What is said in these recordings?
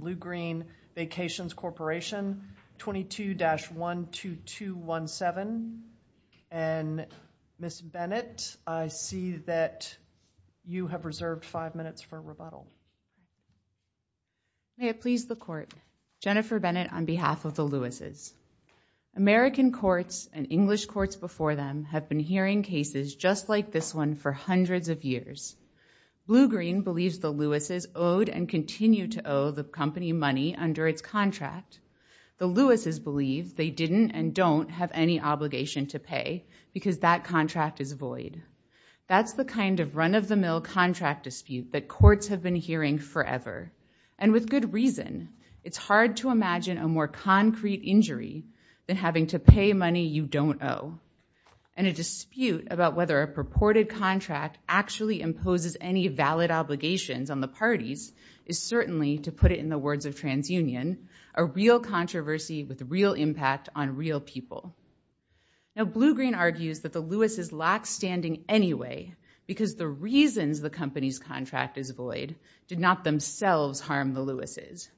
Bluegreen Vacations Corporation, 22-12217, and Ms. Bennett, I see that you have reserved five minutes for rebuttal. May it please the Court, Jennifer Bennett on behalf of the Louis's. American courts and English courts before them have been hearing cases just like this one for hundreds of years. Bluegreen believes the Louis's owed and continue to owe the company money under its contract. The Louis's believe they didn't and don't have any obligation to pay because that contract is void. That's the kind of run-of-the-mill contract dispute that courts have been hearing forever. And with good reason. It's hard to imagine a more concrete injury than having to pay money you don't owe. And a dispute about whether a purported contract actually imposes any valid obligations on the parties is certainly, to put it in the words of TransUnion, a real controversy with real impact on real people. Now Bluegreen argues that the Louis's lack standing anyway because the reasons the company's contract is void did not themselves harm the Louis's.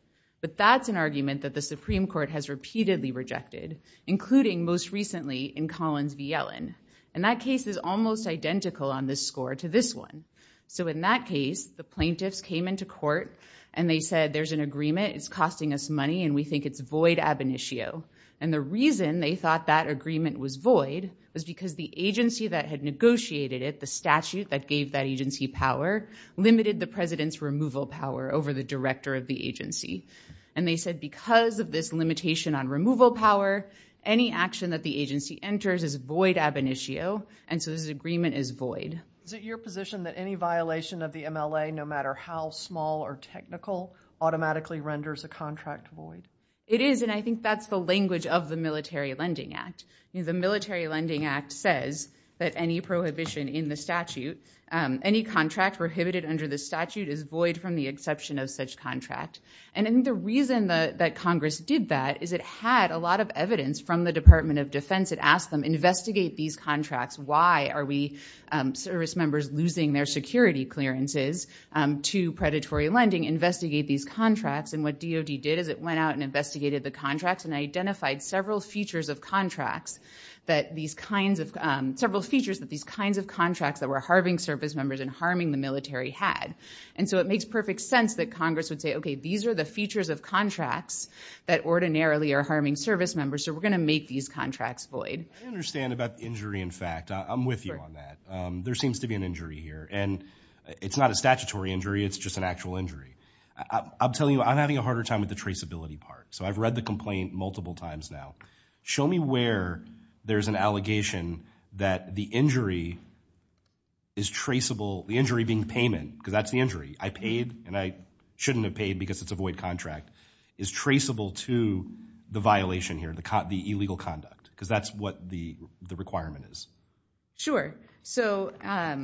But that's an argument that the Supreme Court has repeatedly rejected including most recently in Collins v. Yellen. And that case is almost identical on this score to this one. So in that case the plaintiffs came into court and they said there's an agreement it's costing us money and we think it's void ab initio. And the reason they thought that agreement was void was because the agency that had negotiated the statute that gave that agency power limited the president's removal power over the director of the agency. And they said because of this limitation on removal power any action that the agency enters is void ab initio and so this agreement is void. Is it your position that any violation of the MLA no matter how small or technical automatically renders a contract void? It is and I think that's the language of the Military Lending Act. The Military Lending Act says that any prohibition in the statute, any contract prohibited under the statute is void from the exception of such contract. And the reason that Congress did that is it had a lot of evidence from the Department of Defense. It asked them investigate these contracts. Why are we service members losing their security clearances to predatory lending? Investigate these contracts. And what DOD did is it went out and investigated the contracts and identified several features of contracts that these kinds of, several features that these kinds of contracts that were harming service members and harming the military had. And so it makes perfect sense that Congress would say, okay, these are the features of contracts that ordinarily are harming service members so we're going to make these contracts void. I understand about the injury in fact, I'm with you on that. There seems to be an injury here and it's not a statutory injury, it's just an actual injury. I'm telling you, I'm having a harder time with the traceability part. So I've read the complaint multiple times now. Show me where there's an allegation that the injury is traceable, the injury being payment, because that's the injury. I paid and I shouldn't have paid because it's a void contract. Is traceable to the violation here, the illegal conduct, because that's what the requirement is. Sure. So. I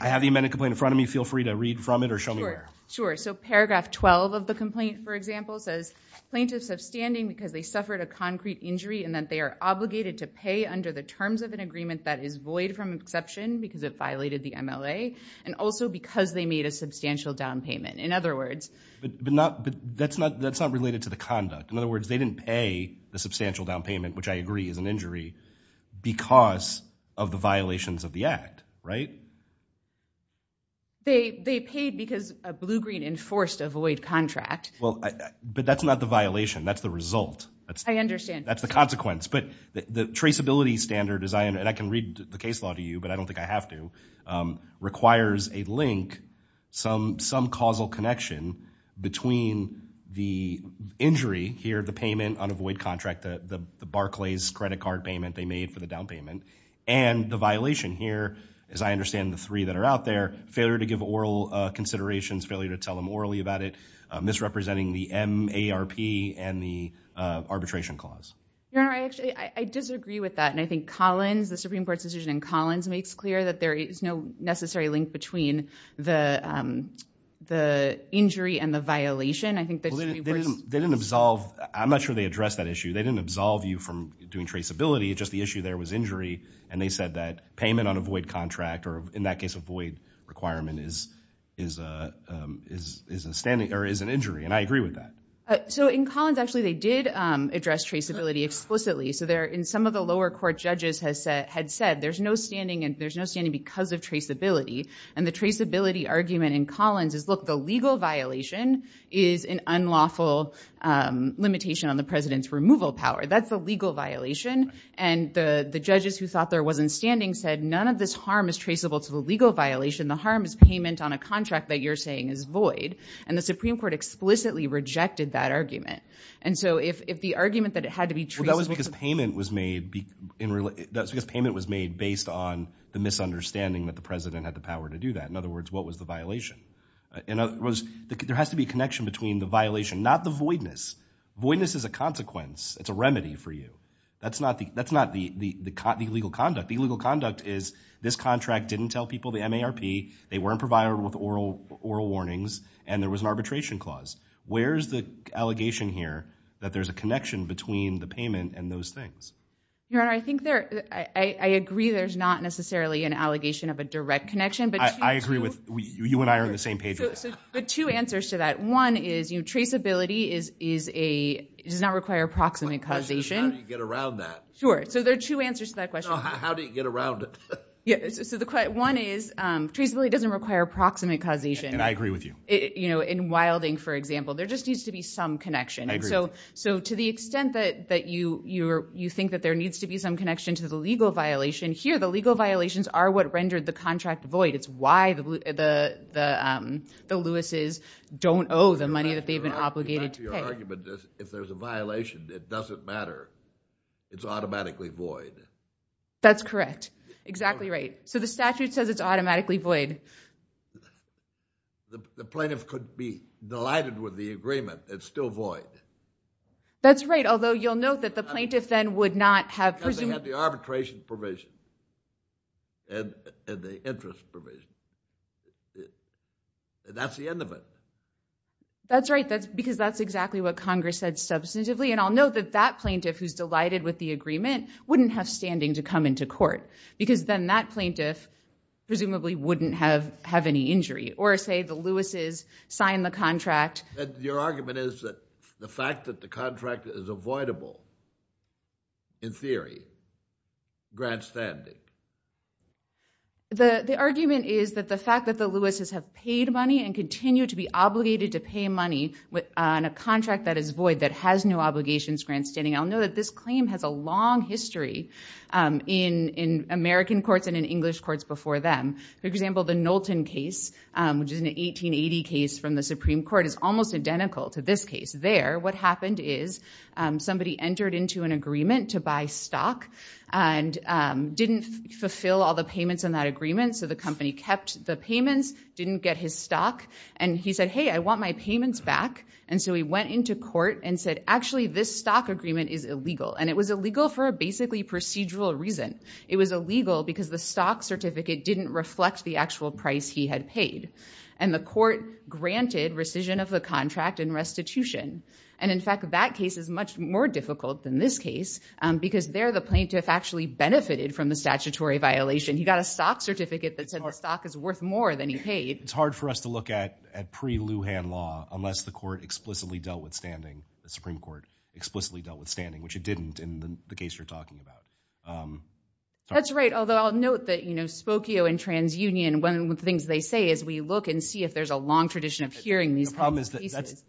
have the amended complaint in front of me. Feel free to read from it or show me where. Sure. So paragraph 12 of the complaint, for example, says plaintiffs have standing because they suffered a concrete injury and that they are obligated to pay under the terms of an agreement that is void from exception because it violated the MLA and also because they made a substantial down payment. In other words. But not, but that's not, that's not related to the conduct. In other words, they didn't pay the substantial down payment, which I agree is an injury because of the violations of the act, right? They, they paid because a blue green enforced a void contract. Well, but that's not the violation. That's the result. I understand. That's the consequence. But the traceability standard as I, and I can read the case law to you, but I don't think I have to, requires a link, some, some causal connection between the injury here, the payment on a void contract, the Barclays credit card payment they made for the down payment. And the violation here, as I understand the three that are out there, failure to give oral considerations, failure to tell them orally about it, misrepresenting the MARP and the arbitration clause. No, I actually, I disagree with that. And I think Collins, the Supreme Court's decision in Collins makes clear that there is no necessary link between the, the injury and the violation. I think they didn't, they didn't absolve, I'm not sure they addressed that issue. They didn't absolve you from doing traceability. Just the issue there was injury. And they said that payment on a void contract, or in that case, a void requirement is, is a, is, is a standing or is an injury. And I agree with that. So in Collins, actually, they did address traceability explicitly. So there in some of the lower court judges has said, had said, there's no standing and there's no standing because of traceability. And the traceability argument in Collins is look, the legal violation is an unlawful limitation on the president's removal power. That's a legal violation. And the, the judges who thought there wasn't standing said, none of this harm is traceable to the legal violation. The harm is payment on a contract that you're saying is void. And the Supreme Court explicitly rejected that argument. And so if, if the argument that it had to be traced. Well, that was because payment was made in, that's because payment was made based on the misunderstanding that the president had the power to do that. In other words, what was the violation? And it was, there has to be a connection between the violation, not the voidness. Voidness is a consequence. It's a remedy for you. That's not the, that's not the, the, the legal conduct. The legal conduct is this contract didn't tell people the MARP. They weren't provided with oral, oral warnings. And there was an arbitration clause. Where's the allegation here that there's a connection between the payment and those things? Your Honor, I think there, I, I agree there's not necessarily an allegation of a direct connection but. I, I agree with, you and I are on the same page with this. So, so, but two answers to that. One is, you know, traceability is, is a, does not require proximate causation. The question is how do you get around that? Sure. So there are two answers to that question. How do you get around it? Yeah. So the, one is traceability doesn't require proximate causation. And I agree with you. You know, in Wilding, for example, there just needs to be some connection. I agree with you. So, so to the extent that, that you, you're, you think that there needs to be some connection to the legal violation, here the legal violations are what rendered the contract void. It's why the, the, the, um, the Lewis's don't owe the money that they've been obligated to pay. Your argument is if there's a violation, it doesn't matter. It's automatically void. That's correct. Exactly right. So the statute says it's automatically void. The plaintiff could be delighted with the agreement. It's still void. That's right. Although you'll note that the plaintiff then would not have presumed. They have the arbitration provision and the interest provision. That's the end of it. That's right. That's because that's exactly what Congress said substantively. And I'll note that that plaintiff who's delighted with the agreement wouldn't have standing to come into court because then that plaintiff presumably wouldn't have, have any injury or say the Lewis's signed the contract. Your argument is that the fact that the contract is avoidable in theory, grant standing. The argument is that the fact that the Lewis's have paid money and continue to be obligated to pay money on a contract that is void, that has no obligations, grant standing. I'll note that this claim has a long history in, in American courts and in English courts before them. For example, the Knowlton case, which is an 1880 case from the Supreme Court is almost identical to this case there. What happened is somebody entered into an agreement to buy stock and didn't fulfill all the payments on that agreement. So the company kept the payments, didn't get his stock. And he said, hey, I want my payments back. And so he went into court and said, actually, this stock agreement is illegal. And it was illegal for a basically procedural reason. It was illegal because the stock certificate didn't reflect the actual price he had paid. And the court granted rescission of the contract and restitution. And in fact, that case is much more difficult than this case because there the plaintiff actually benefited from the statutory violation. He got a stock certificate that said the stock is worth more than he paid. It's hard for us to look at, at pre-Lujan law unless the court explicitly dealt with standing, the Supreme Court explicitly dealt with standing, which it didn't in the case you're talking about. Sorry. That's right. Although I'll note that Spokio and TransUnion, one of the things they say is we look and see if there's a long tradition of hearing these kinds of cases.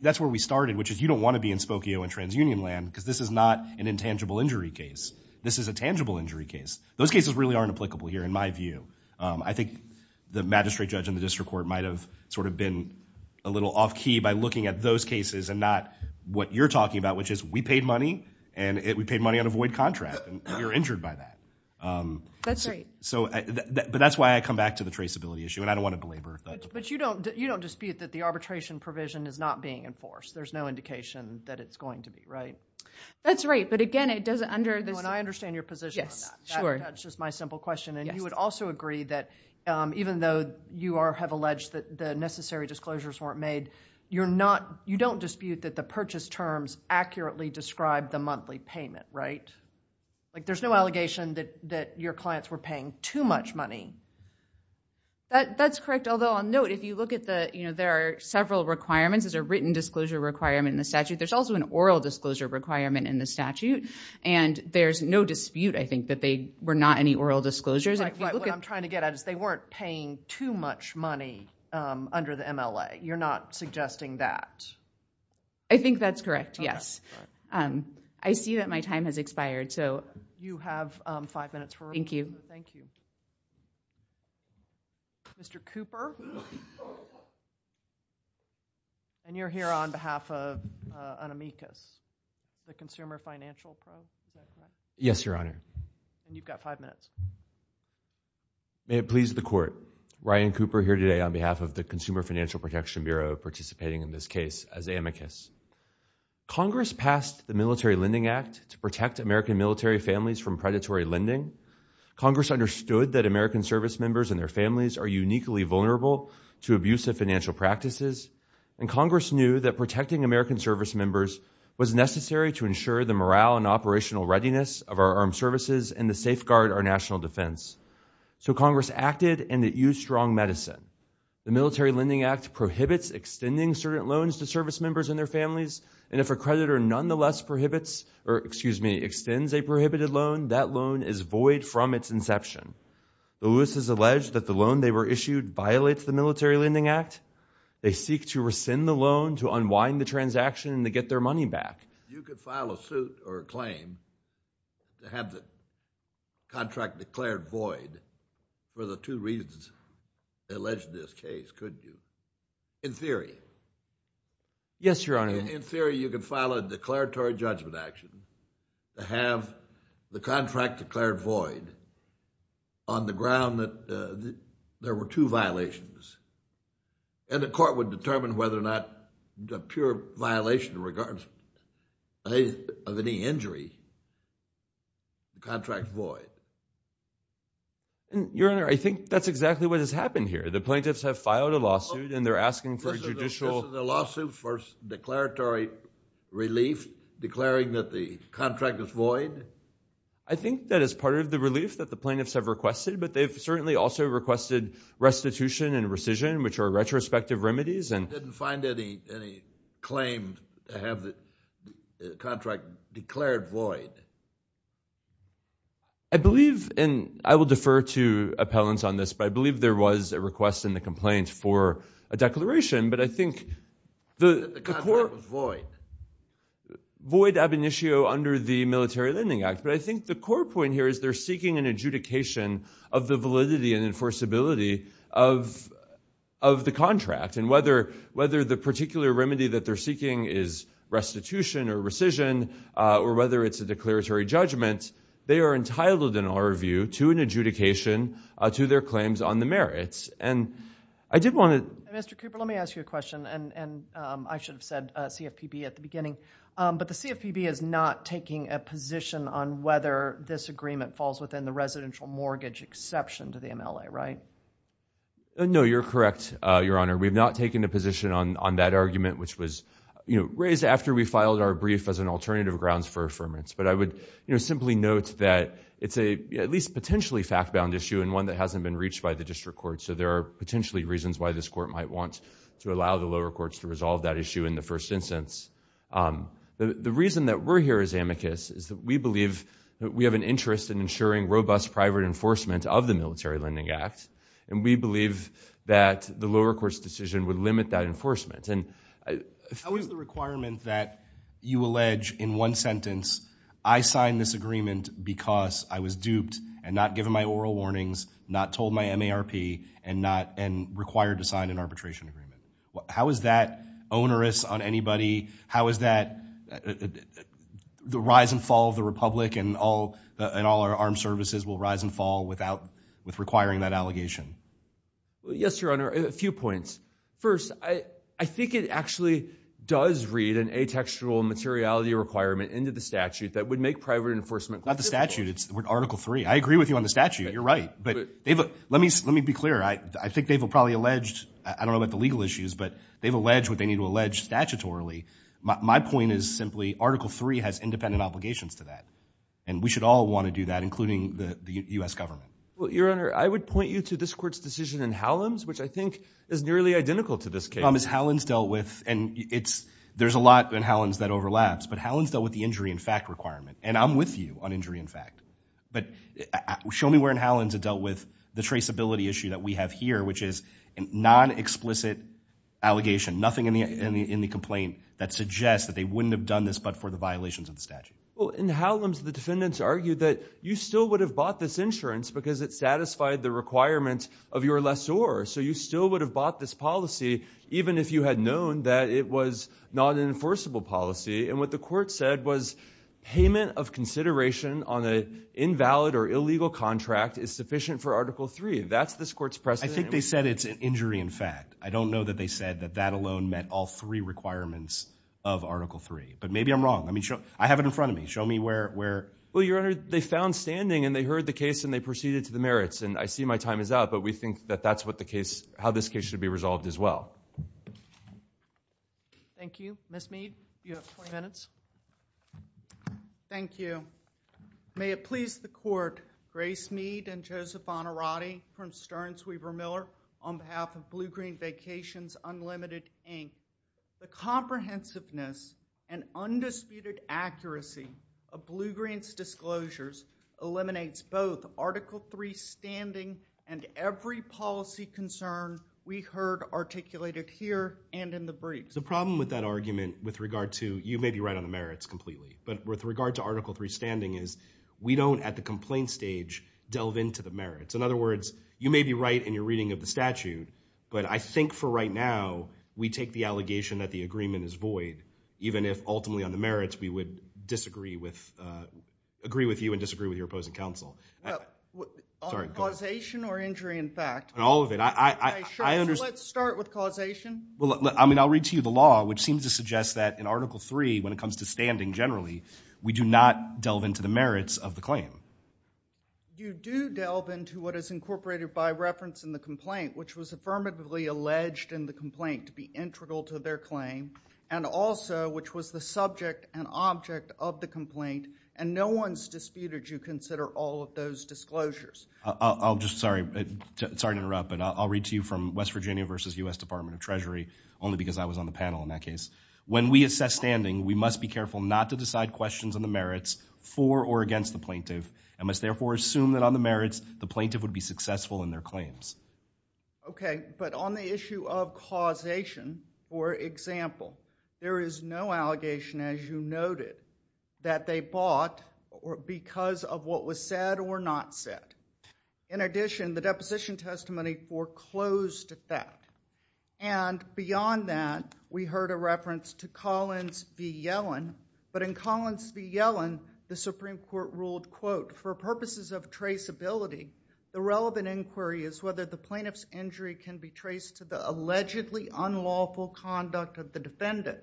That's where we started, which is you don't want to be in Spokio and TransUnion land because this is not an intangible injury case. This is a tangible injury case. Those cases really aren't applicable here in my view. I think the magistrate judge in the district court might have sort of been a little off key by looking at those cases and not what you're talking about, which is we paid money and we paid money on a void contract and you're injured by that. That's right. But that's why I come back to the traceability issue and I don't want to belabor that. But you don't dispute that the arbitration provision is not being enforced. There's no indication that it's going to be, right? That's right. But again, it doesn't under- And I understand your position on that. Yes, sure. That's just my simple question. And you would also agree that even though you have alleged that the necessary disclosures weren't made, you don't dispute that the purchase terms accurately describe the monthly payment, right? There's no allegation that your clients were paying too much money. That's correct. Although on note, if you look at the... There are several requirements. There's a written disclosure requirement in the statute. There's also an oral disclosure requirement in the statute. And there's no dispute, I think, that they were not any oral disclosures. What I'm trying to get at is they weren't paying too much money under the MLA. You're not suggesting that. I think that's correct, yes. I see that my time has expired, so... You have five minutes for... Thank you. Thank you. Mr. Cooper? And you're here on behalf of an amicus, the Consumer Financial Fund, is that right? Yes, Your Honor. And you've got five minutes. May it please the Court, Ryan Cooper here today on behalf of the Consumer Financial Protection Bureau participating in this case as amicus. Congress passed the Military Lending Act to protect American military families from predatory lending. Congress understood that American service members and their families are uniquely vulnerable to abusive financial practices, and Congress knew that protecting American service members was necessary to ensure the morale and operational readiness of our armed services and to safeguard our national defense. So Congress acted, and it used strong medicine. The Military Lending Act prohibits extending certain loans to service members and their families, and if a creditor nonetheless extends a prohibited loan, that loan is void from its inception. Lewis has alleged that the loan they were issued violates the Military Lending Act. They seek to rescind the loan, to unwind the transaction, and to get their money back. You could file a suit or a claim to have the contract declared void for the two reasons alleged in this case, couldn't you? In theory. Yes, Your Honor. In theory, you could file a declaratory judgment action to have the contract declared void on the ground that there were two violations, and the Court would determine whether or not a pure violation in regards of any injury, the contract's void. Your Honor, I think that's exactly what has happened here. The plaintiffs have filed a lawsuit, and they're asking for a judicial- This is a lawsuit for declaratory relief, declaring that the contract is void? I think that is part of the relief that the plaintiffs have requested, but they've certainly also requested restitution and rescission, which are retrospective remedies, and- And they claim to have the contract declared void. I believe, and I will defer to appellants on this, but I believe there was a request in the complaint for a declaration, but I think the- That the contract was void. Void ab initio under the Military Lending Act, but I think the core point here is they're seeking an adjudication of the validity and enforceability of the contract, and whether the particular remedy that they're seeking is restitution or rescission, or whether it's a declaratory judgment, they are entitled, in our view, to an adjudication to their claims on the merits. And I did want to- Mr. Cooper, let me ask you a question, and I should have said CFPB at the beginning, but the CFPB is not taking a position on whether this agreement falls within the residential mortgage exception to the MLA, right? No, you're correct, Your Honor. We've not taken a position on that argument, which was, you know, raised after we filed our brief as an alternative grounds for affirmance. But I would, you know, simply note that it's a, at least potentially fact-bound issue, and one that hasn't been reached by the district court, so there are potentially reasons why this court might want to allow the lower courts to resolve that issue in the first instance. The reason that we're here as amicus is that we believe that we have an interest in ensuring robust private enforcement of the Military Lending Act, and we believe that the lower courts' decision would limit that enforcement. How is the requirement that you allege in one sentence, I signed this agreement because I was duped and not given my oral warnings, not told my MARP, and not, and required to sign an arbitration agreement? How is that onerous on anybody? How is that, the rise and fall of the Republic and all, and all our armed services will rise and fall without, with requiring that allegation? Well, yes, Your Honor, a few points. First, I think it actually does read an atextual materiality requirement into the statute that would make private enforcement. Not the statute, it's Article 3. I agree with you on the statute, you're right, but they've, let me be clear, I think they've all probably alleged, I don't know about the legal issues, but they've alleged what they need to allege statutorily. My point is simply, Article 3 has independent obligations to that, and we should all want to do that, including the U.S. government. Well, Your Honor, I would point you to this court's decision in Hallam's, which I think is nearly identical to this case. Tom, as Hallam's dealt with, and it's, there's a lot in Hallam's that overlaps, but Hallam's dealt with the injury in fact requirement, and I'm with you on injury in fact, but show me where in Hallam's it dealt with the traceability issue that we have here, which is a non-explicit allegation, nothing in the complaint that suggests that they wouldn't have done this but for the violations of the statute. Well, in Hallam's, the defendants argued that you still would have bought this insurance because it satisfied the requirements of your lessor, so you still would have bought this policy even if you had known that it was not an enforceable policy, and what the court said was payment of consideration on an invalid or illegal contract is sufficient for Article 3. That's this court's precedent. I think they said it's an injury in fact. I don't know that they said that that alone met all three requirements of Article 3, but maybe I'm wrong. I have it in front of me. Show me where. Well, Your Honor, they found standing, and they heard the case, and they proceeded to the merits, and I see my time is up, but we think that that's how this case should be resolved as well. Thank you. Ms. Mead, you have 20 minutes. Thank you. May it please the court, Grace Mead and Joseph Bonnerati from Stern, Sweever, Miller on behalf of Blue Green Vacations Unlimited, Inc., the comprehensiveness and undisputed accuracy of Blue Green's disclosures eliminates both Article 3 standing and every policy concern we heard articulated here and in the brief. The problem with that argument with regard to, you may be right on the merits completely, but with regard to Article 3 standing is we don't, at the complaint stage, delve into the merits. In other words, you may be right in your reading of the statute, but I think for right now we take the allegation that the agreement is void, even if ultimately on the merits we would disagree with, agree with you and disagree with your opposing counsel. On causation or injury in fact? All of it. I understand. Let's start with causation. I mean, I'll read to you the law, which seems to suggest that in Article 3, when it comes to standing generally, we do not delve into the merits of the claim. You do delve into what is incorporated by reference in the complaint, which was affirmatively alleged in the complaint to be integral to their claim, and also which was the subject and object of the complaint, and no one's disputed you consider all of those disclosures. I'll just, sorry, sorry to interrupt, but I'll read to you from West Virginia versus U.S. Department of Treasury, only because I was on the panel in that case. When we assess standing, we must be careful not to decide questions on the merits for or against the plaintiff, and must therefore assume that on the merits, the plaintiff would be successful in their claims. Okay, but on the issue of causation, for example, there is no allegation, as you noted, that they bought because of what was said or not said. In addition, the deposition testimony foreclosed that. And beyond that, we heard a reference to Collins v. Yellen. But in Collins v. Yellen, the Supreme Court ruled, quote, for purposes of traceability, the relevant inquiry is whether the plaintiff's injury can be traced to the allegedly unlawful conduct of the defendant,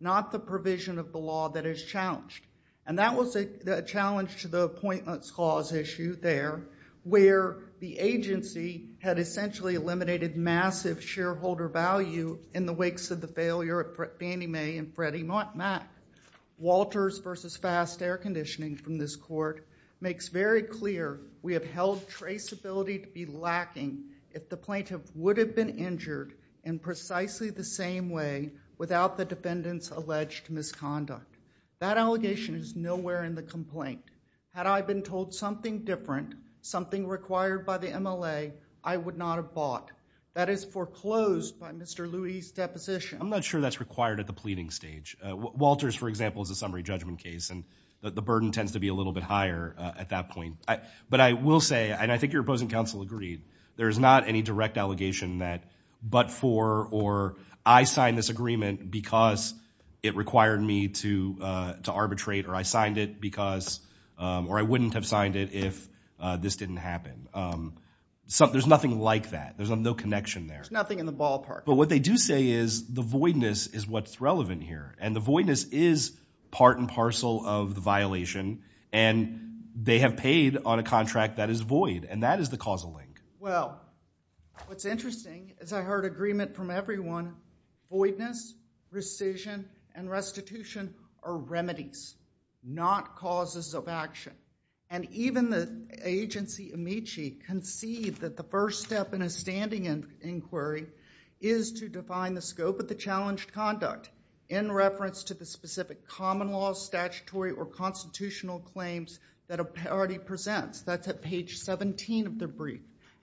not the provision of the law that is challenged. And that was a challenge to the appointments clause issue there, where the agency had essentially eliminated massive shareholder value in the wakes of the failure at Fannie Mae and Freddie Mac. Walters v. Fast Air Conditioning from this court makes very clear we have held traceability to be lacking if the plaintiff would have been injured in precisely the same way without the defendant's alleged misconduct. That allegation is nowhere in the complaint. Had I been told something different, something required by the MLA, I would not have bought. That is foreclosed by Mr. Lewie's deposition. I'm not sure that's required at the pleading stage. Walters, for example, is a summary judgment case, and the burden tends to be a little bit higher at that point. But I will say, and I think your opposing counsel agreed, there is not any direct allegation that but for or I signed this agreement because it required me to arbitrate or I signed it because, or I wouldn't have signed it if this didn't happen. There's nothing like that. There's no connection there. There's nothing in the ballpark. But what they do say is the voidness is what's relevant here, and the voidness is part and parcel of the violation, and they have paid on a contract that is void, and that is the causal link. Well, what's interesting is I heard agreement from everyone, voidness, rescission, and restitution are remedies, not causes of action. And even the agency, Amici, conceived that the first step in a standing inquiry is to define the scope of the challenged conduct in reference to the specific common law, statutory, or constitutional claims that a party presents. That's at page 17 of their brief.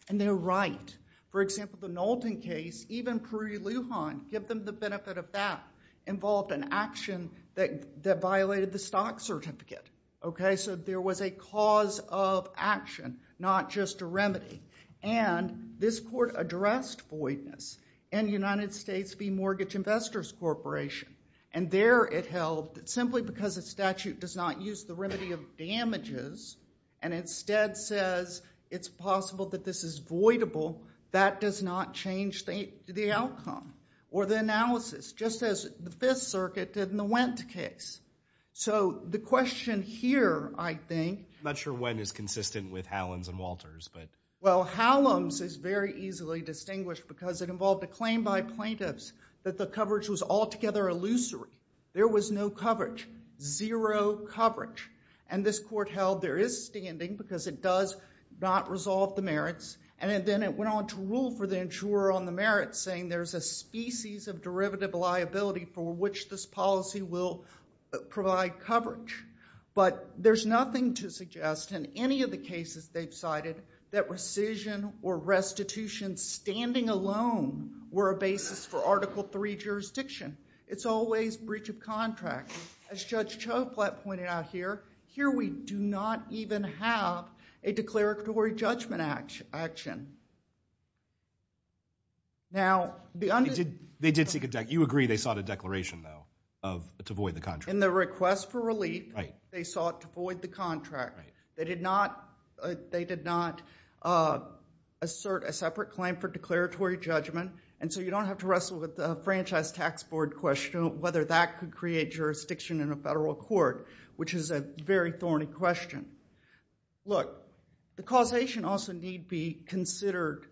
And they're right. For example, the Knowlton case, even Pruitt-Lujan, give them the benefit of that, involved an action that violated the stock certificate. OK? So there was a cause of action, not just a remedy. And this court addressed voidness in United States v. Mortgage Investors Corporation. And there it held that simply because a statute does not use the remedy of damages and instead says it's possible that this is voidable, that does not change the outcome or the analysis. Just as the Fifth Circuit did in the Wendt case. So the question here, I think. I'm not sure when it's consistent with Hallam's and Walters, but. Well, Hallam's is very easily distinguished because it involved a claim by plaintiffs that the coverage was altogether illusory. There was no coverage, zero coverage. And this court held there is standing because it does not resolve the merits. And then it went on to rule for the insurer on the merits, saying there's a species of derivative liability for which this policy will provide coverage. But there's nothing to suggest in any of the cases they've cited that rescission or restitution standing alone were a basis for Article III jurisdiction. It's always breach of contract. As Judge Choklat pointed out here, here we do not even have a declaratory judgment action. Now, the undisclosed. They did seek a declaration. You agree they sought a declaration, though, to void the contract. In the request for relief, they sought to void the contract. They did not assert a separate claim for declaratory judgment. And so you don't have to wrestle with the franchise tax board question of whether that could create jurisdiction in a federal court, which is a very thorny question. Look, the causation also need be considered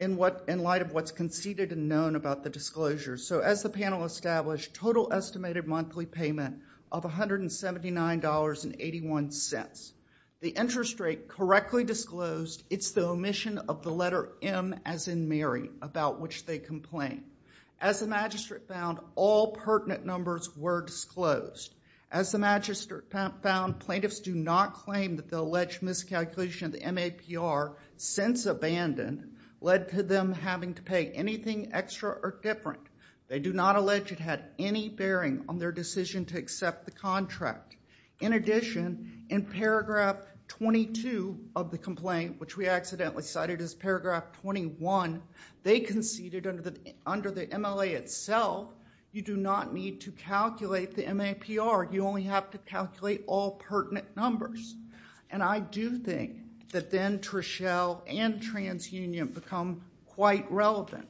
in light of what's conceded and known about the disclosure. So as the panel established, total estimated monthly payment of $179.81. The interest rate correctly disclosed. It's the omission of the letter M, as in Mary, about which they complain. As the magistrate found, all pertinent numbers were disclosed. As the magistrate found, plaintiffs do not claim that the alleged miscalculation of the MAPR, since abandoned, led to them having to pay anything extra or different. They do not allege it had any bearing on their decision to accept the contract. In addition, in paragraph 22 of the complaint, which we accidentally cited as paragraph 21, they conceded under the MLA itself, you do not need to calculate the MAPR. You only have to calculate all pertinent numbers. And I do think that then Trischel and TransUnion become quite relevant,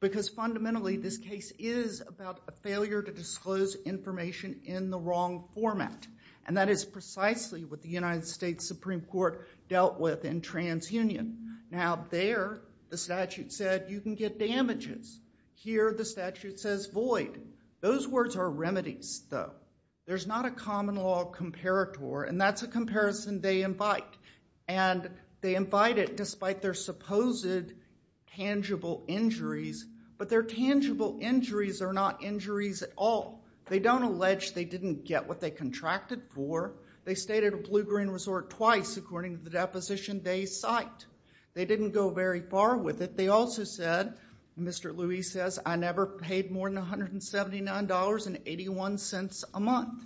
because fundamentally this case is about a failure to disclose information in the wrong format. And that is precisely what the United States Supreme Court dealt with in TransUnion. Now there, the statute said, you can get damages. Here, the statute says void. Those words are remedies, though. There's not a common law comparator, and that's a comparison they invite. And they invite it despite their supposed tangible injuries. But their tangible injuries are not injuries at all. They don't allege they didn't get what they contracted for. They stayed at a blue-green resort twice, according to the deposition they cite. They didn't go very far with it. They also said, Mr. Luis says, I never paid more than $179.81 a month.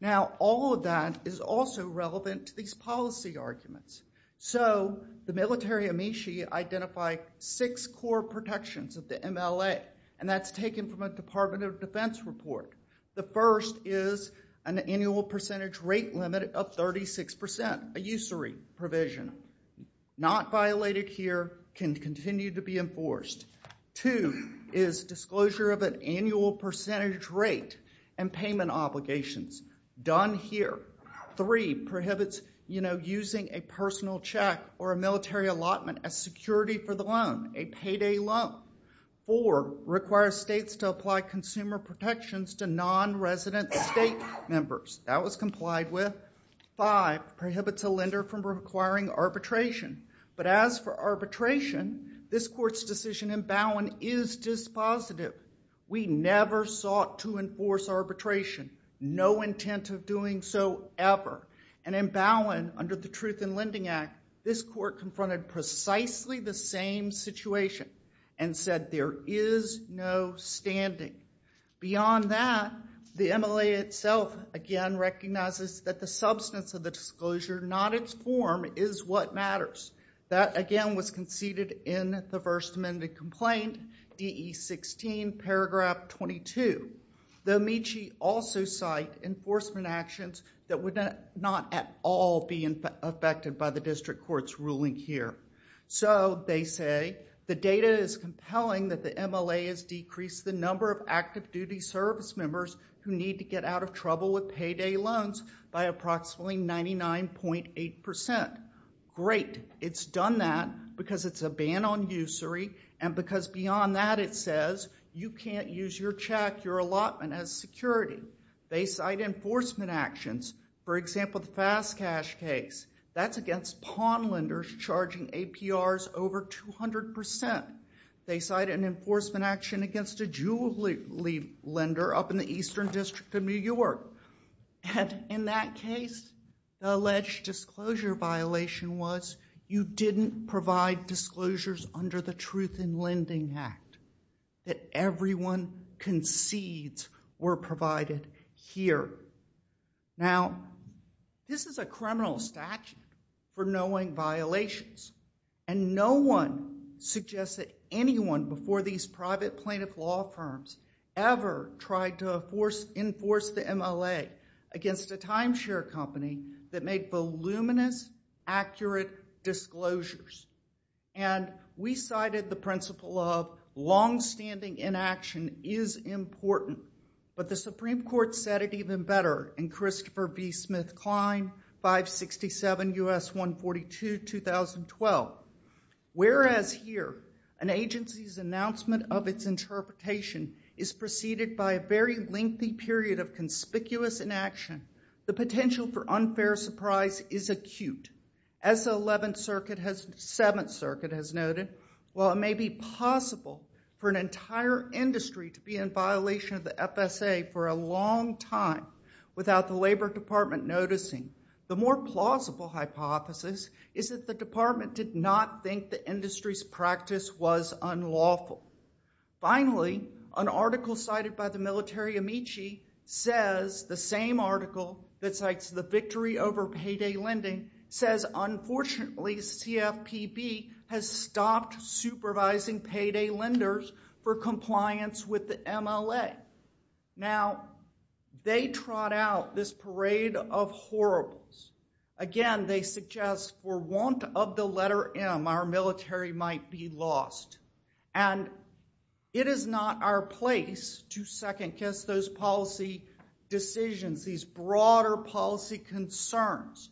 Now all of that is also relevant to these policy arguments. So the military amici identify six core protections of the MLA, and that's taken from a Department of Defense report. The first is an annual percentage rate limit of 36%, a usury provision. Not violated here, can continue to be enforced. Two is disclosure of an annual percentage rate and payment obligations. Done here. Three prohibits using a personal check or a military allotment as security for the loan, a payday loan. Four, requires states to apply consumer protections to non-resident state members. That was complied with. Five, prohibits a lender from requiring arbitration. But as for arbitration, this court's decision in Bowen is dispositive. We never sought to enforce arbitration. No intent of doing so ever. And in Bowen, under the Truth in Lending Act, this court confronted precisely the same situation. And said there is no standing. Beyond that, the MLA itself again recognizes that the substance of the disclosure, not its form, is what matters. That again was conceded in the first amended complaint, DE 16, paragraph 22. The amici also cite enforcement actions that would not at all be affected by the district court's ruling here. So they say, the data is compelling that the MLA has decreased the number of active duty service members who need to get out of trouble with payday loans by approximately 99.8%. Great. It's done that because it's a ban on usury. And because beyond that, it says you can't use your check, your allotment as security. They cite enforcement actions. For example, the fast cash case. That's against pawn lenders charging APRs over 200%. They cite an enforcement action against a jewelry lender up in the Eastern District of New York. And in that case, the alleged disclosure violation was you didn't provide disclosures under the Truth in Lending Act. That everyone concedes were provided here. Now, this is a criminal statute for knowing violations. And no one suggests that anyone before these private plaintiff law firms ever tried to enforce the MLA against a timeshare company that made voluminous, accurate disclosures. And we cited the principle of longstanding inaction is important. But the Supreme Court said it even better in Christopher B. Smith Klein, 567 US 142, 2012. Whereas here, an agency's announcement of its interpretation is preceded by a very lengthy period of conspicuous inaction, the potential for unfair surprise is acute. As the Seventh Circuit has noted, while it may be possible for an entire industry to be in violation of the FSA for a long time without the Labor Department noticing, the more plausible hypothesis is that the department did not think the industry's practice was unlawful. Finally, an article cited by the military amici says the same article that cites the victory over payday lending says, unfortunately, CFPB has stopped supervising payday lenders for compliance with the MLA. Now, they trot out this parade of horribles. Again, they suggest for want of the letter M, our military might be lost. And it is not our place to second guess those policy decisions, these broader policy concerns.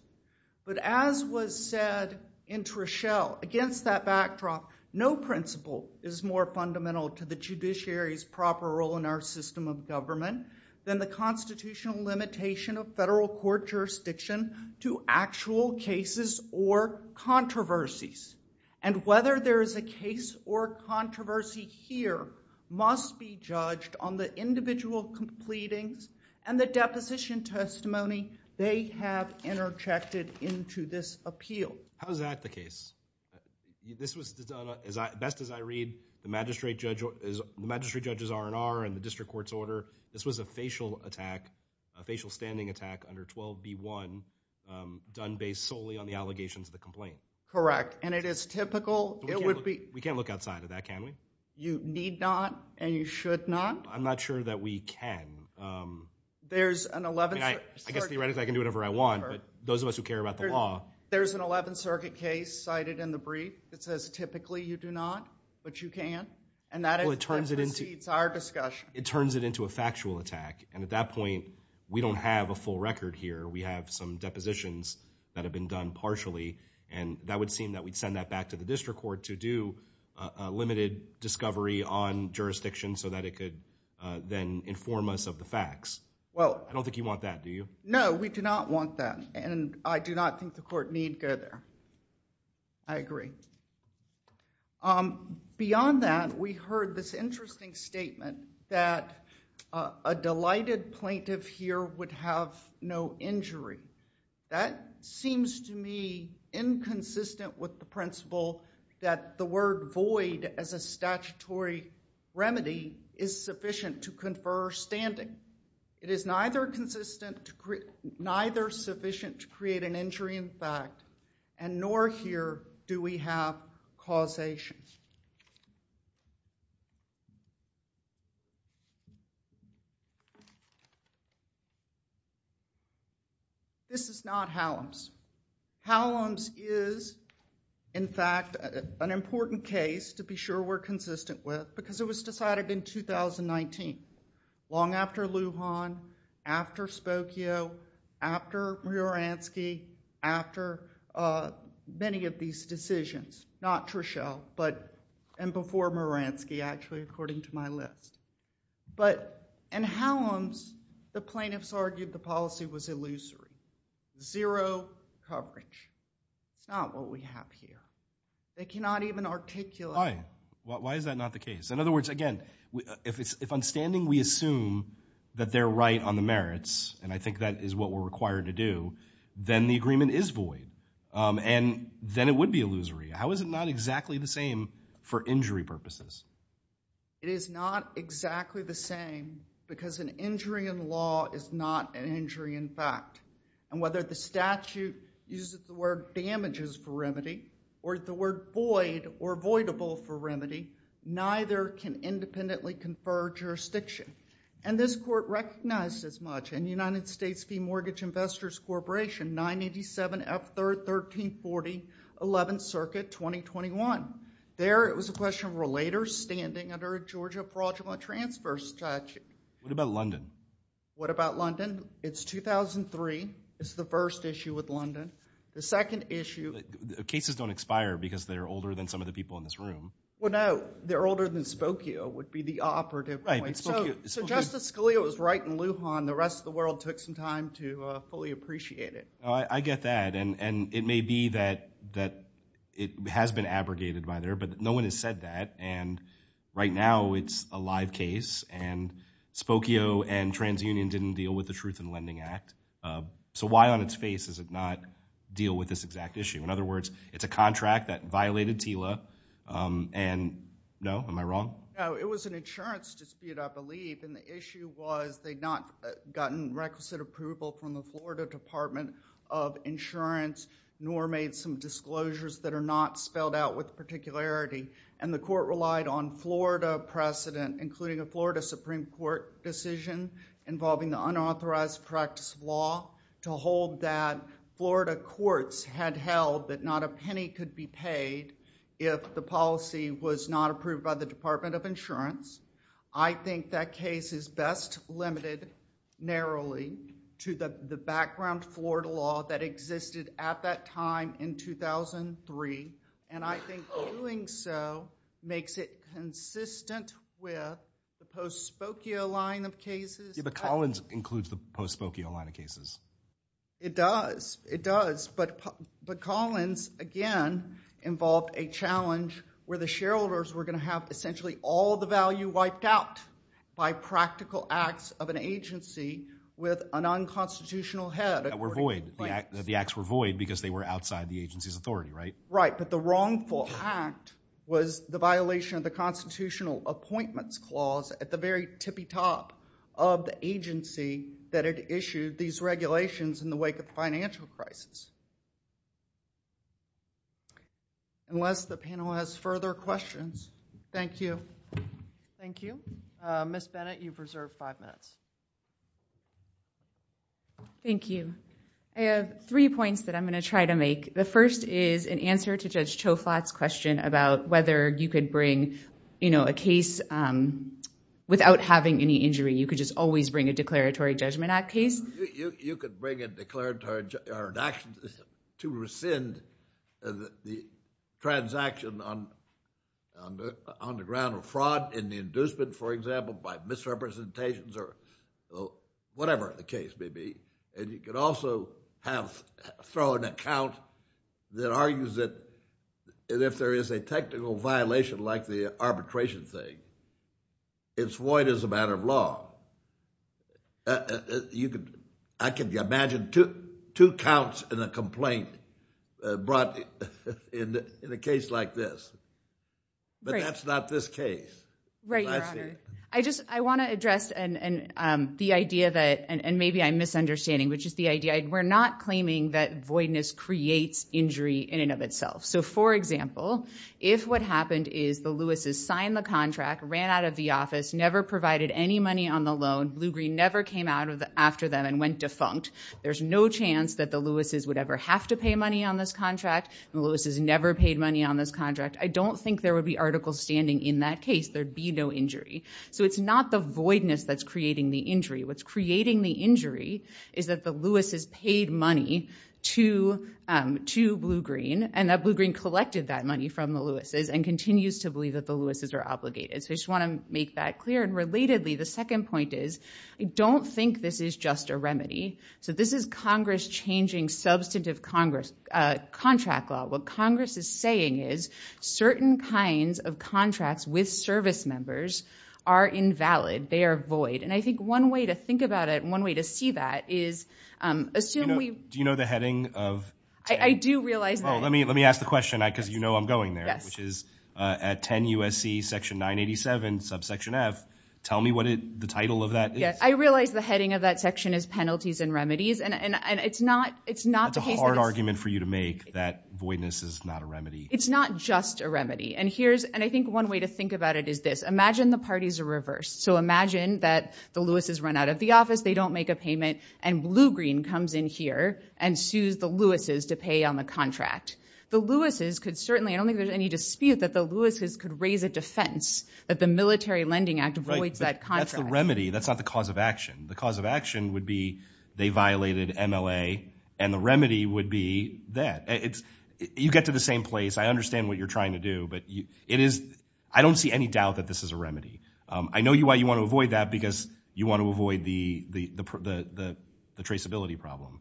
But as was said in Trischel, against that backdrop, no principle is more fundamental to the judiciary's proper role in our system of government than the constitutional limitation of federal court jurisdiction to actual cases or controversies. And whether there is a case or controversy here must be judged on the individual completing and the deposition testimony they have interjected into this appeal. How is that the case? Best as I read, the magistrate judge's R&R and the district court's order, this was a facial attack, a facial standing attack, under 12b1, done based solely on the allegations of the complaint. Correct. And it is typical, it would be... We can't look outside of that, can we? You need not, and you should not? I'm not sure that we can. There's an 11th circuit... I guess theoretically I can do whatever I want, but those of us who care about the law... There's an 11th circuit case cited in the brief that says typically you do not, but you can, and that precedes our discussion. It turns it into a factual attack, and at that point we don't have a full record here. We have some depositions that have been done partially, and that would seem that we'd send that back to the district court to do a limited discovery on jurisdiction so that it could then inform us of the facts. Well... I don't think you want that, do you? No, we do not want that, and I do not think the court need go there. I agree. Beyond that, we heard this interesting statement that a delighted plaintiff here would have no injury. That seems to me inconsistent with the principle that the word void as a statutory remedy is sufficient to confer standing. It is neither sufficient to create an injury in fact, and nor here do we have causation. This is not Hallam's. Hallam's is in fact an important case to be sure we're consistent with because it was decided in 2019, long after Lujan, after Spokio, after Muransky, after many of these decisions, not Truschell, and before Muransky, actually, according to my list. But in Hallam's, the plaintiffs argued the policy was illusory. Zero coverage. It's not what we have here. They cannot even articulate... Why? Why is that not the case? In other words, again, if on standing we assume that they're right on the merits, and I think that is what we're required to do, then the agreement is void, and then it would be illusory. How is it not exactly the same for injury purposes? It is not exactly the same because an injury in law is not an injury in fact. And whether the statute uses the word damages for remedy or the word void or voidable for remedy, neither can independently confer jurisdiction. And this court recognized as much. In United States Fee Mortgage Investors Corporation, 987F1340, 11th Circuit, 2021. There, it was a question of relators standing under a Georgia fraudulent transfer statute. What about London? What about London? It's 2003. It's the first issue with London. The second issue... Cases don't expire because they're older than some of the people in this room. Well no, they're older than Spokio would be the operative point. So Justice Scalia was right in Lujan, the rest of the world took some time to fully appreciate it. I get that, and it may be that it has been abrogated by there, but no one has said that, and right now it's a live case, and Spokio and TransUnion didn't deal with the Truth in Lending Act. So why on its face does it not deal with this exact issue? In other words, it's a contract that violated TILA, and no, am I wrong? No, it was an insurance dispute, I believe, and the issue was they'd not gotten requisite approval from the Florida Department of Insurance, nor made some disclosures that are not spelled out with particularity, and the court relied on Florida precedent, including a Florida Supreme Court decision involving the unauthorized practice of law to hold that Florida courts had held that not a penny could be paid if the policy was not approved by the Department of Insurance. I think that case is best limited narrowly to the background Florida law that existed at that time in 2003, and I think doing so makes it consistent with the post-Spokio line of cases. Yeah, but Collins includes the post-Spokio line of cases. It does, it does, but Collins, again, involved a challenge where the shareholders were gonna have essentially all the value wiped out by practical acts of an agency with a non-constitutional head, according to the plaintiffs. The acts were void because they were outside the agency's authority, right? Right, but the wrongful act was the violation of the Constitutional Appointments Clause at the very tippy-top of the agency that had issued these regulations in the wake of the financial crisis. Unless the panel has further questions, thank you. Thank you. Ms. Bennett, you've reserved five minutes. Thank you. I have three points that I'm gonna try to make. The first is an answer to Judge Choflat's question about whether you could bring a case without having any injury. You could just always bring a Declaratory Judgment Act case. You could bring a declaratory action to rescind the transaction on the ground of fraud in the inducement, for example, by misrepresentations or whatever the case may be. And you could also throw an account that argues that if there is a technical violation like the arbitration thing, it's void as a matter of law. You could, I can imagine two counts in a complaint brought in a case like this. But that's not this case. Right, Your Honor. I just, I wanna address the idea that, and maybe I'm misunderstanding, which is the idea, we're not claiming that voidness creates injury in and of itself. So for example, if what happened is the Lewises signed the contract, ran out of the office, never provided any money on the loan, Blue Green never came after them and went defunct, there's no chance that the Lewises would ever have to pay money on this contract. The Lewises never paid money on this contract. I don't think there would be articles standing in that case. There'd be no injury. So it's not the voidness that's creating the injury. What's creating the injury is that the Lewises paid money to Blue Green and that Blue Green collected that money from the Lewises and continues to believe that the Lewises are obligated. So I just wanna make that clear. And relatedly, the second point is, I don't think this is just a remedy. So this is Congress changing substantive contract law. What Congress is saying is, certain kinds of contracts with service members are invalid, they are void. And I think one way to think about it, one way to see that is, assume we- Do you know the heading of- I do realize that- Oh, let me ask the question because you know I'm going there, which is at 10 USC, section 987, subsection F. Tell me what the title of that is. I realize the heading of that section is penalties and remedies, and it's not the case that it's- That's a hard argument for you to make, that voidness is not a remedy. It's not just a remedy. And I think one way to think about it is this. Imagine the parties are reversed. So imagine that the Lewises run out of the office, they don't make a payment, and Blue Green comes in here and sues the Lewises to pay on the contract. The Lewises could certainly, I don't think there's any dispute that the Lewises could raise a defense that the Military Lending Act avoids that contract. That's the remedy, that's not the cause of action. The cause of action would be they violated MLA, and the remedy would be that. You get to the same place. I understand what you're trying to do, but it is, I don't see any doubt that this is a remedy. I know why you want to avoid that because you want to avoid the traceability problem.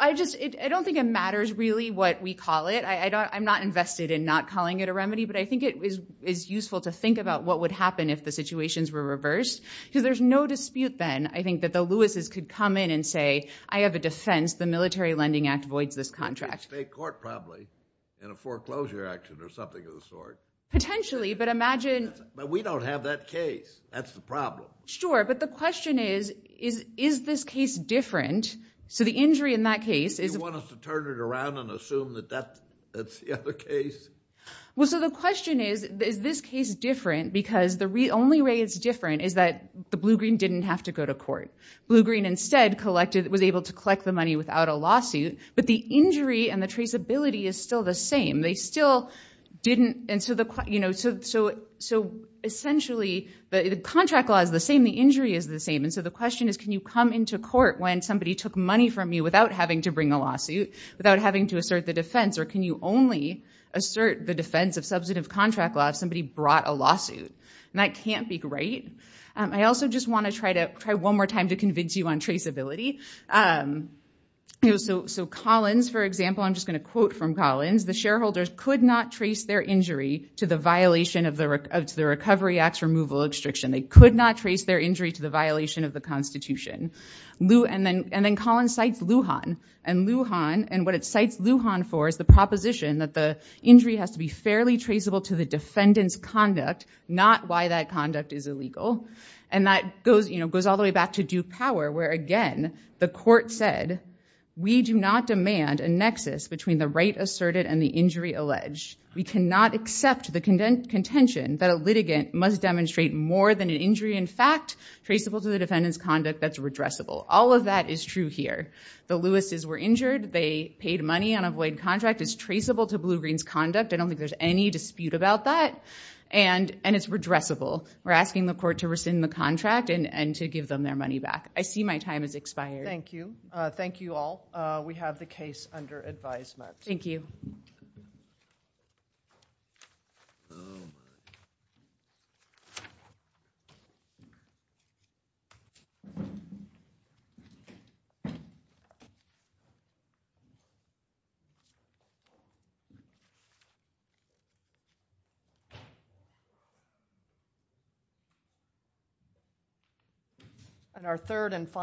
I just, I don't think it matters really what we call it. I'm not invested in not calling it a remedy, but I think it is useful to think about what would happen if the situations were reversed. Because there's no dispute then, I think, that the Lewises could come in and say, I have a defense, the Military Lending Act avoids this contract. State court probably, in a foreclosure action or something of the sort. Potentially, but imagine- But we don't have that case, that's the problem. Sure, but the question is, is this case different? So the injury in that case is- You want us to turn it around and assume that that's the other case? Well, so the question is, is this case different? Because the only way it's different is that the Blue-Green didn't have to go to court. Blue-Green instead was able to collect the money without a lawsuit, but the injury and the traceability is still the same. They still didn't, and so essentially, the contract law is the same, the injury is the same. And so the question is, can you come into court when somebody took money from you without having to bring a lawsuit, without having to assert the defense, or can you only assert the defense of substantive contract law if somebody brought a lawsuit? And that can't be right. I also just want to try one more time to convince you on traceability. So Collins, for example, I'm just gonna quote from Collins. The shareholders could not trace their injury to the violation of the Recovery Act's removal restriction. They could not trace their injury to the violation of the Constitution. And then Collins cites Lujan, and Lujan, and what it cites Lujan for is the proposition that the injury has to be fairly traceable to the defendant's conduct, not why that conduct is illegal. And that goes all the way back to Duke Power, where again, the court said, we do not demand a nexus between the right asserted and the injury alleged. We cannot accept the contention that a litigant must demonstrate more than an injury in fact traceable to the defendant's conduct that's redressable. All of that is true here. The Lewis's were injured. They paid money on a void contract. It's traceable to Blue Green's conduct. I don't think there's any dispute about that. And it's redressable. We're asking the court to rescind the contract and to give them their money back. I see my time has expired. Thank you. Thank you all. We have the case under advisement. Thank you. Thank you. And our third and final.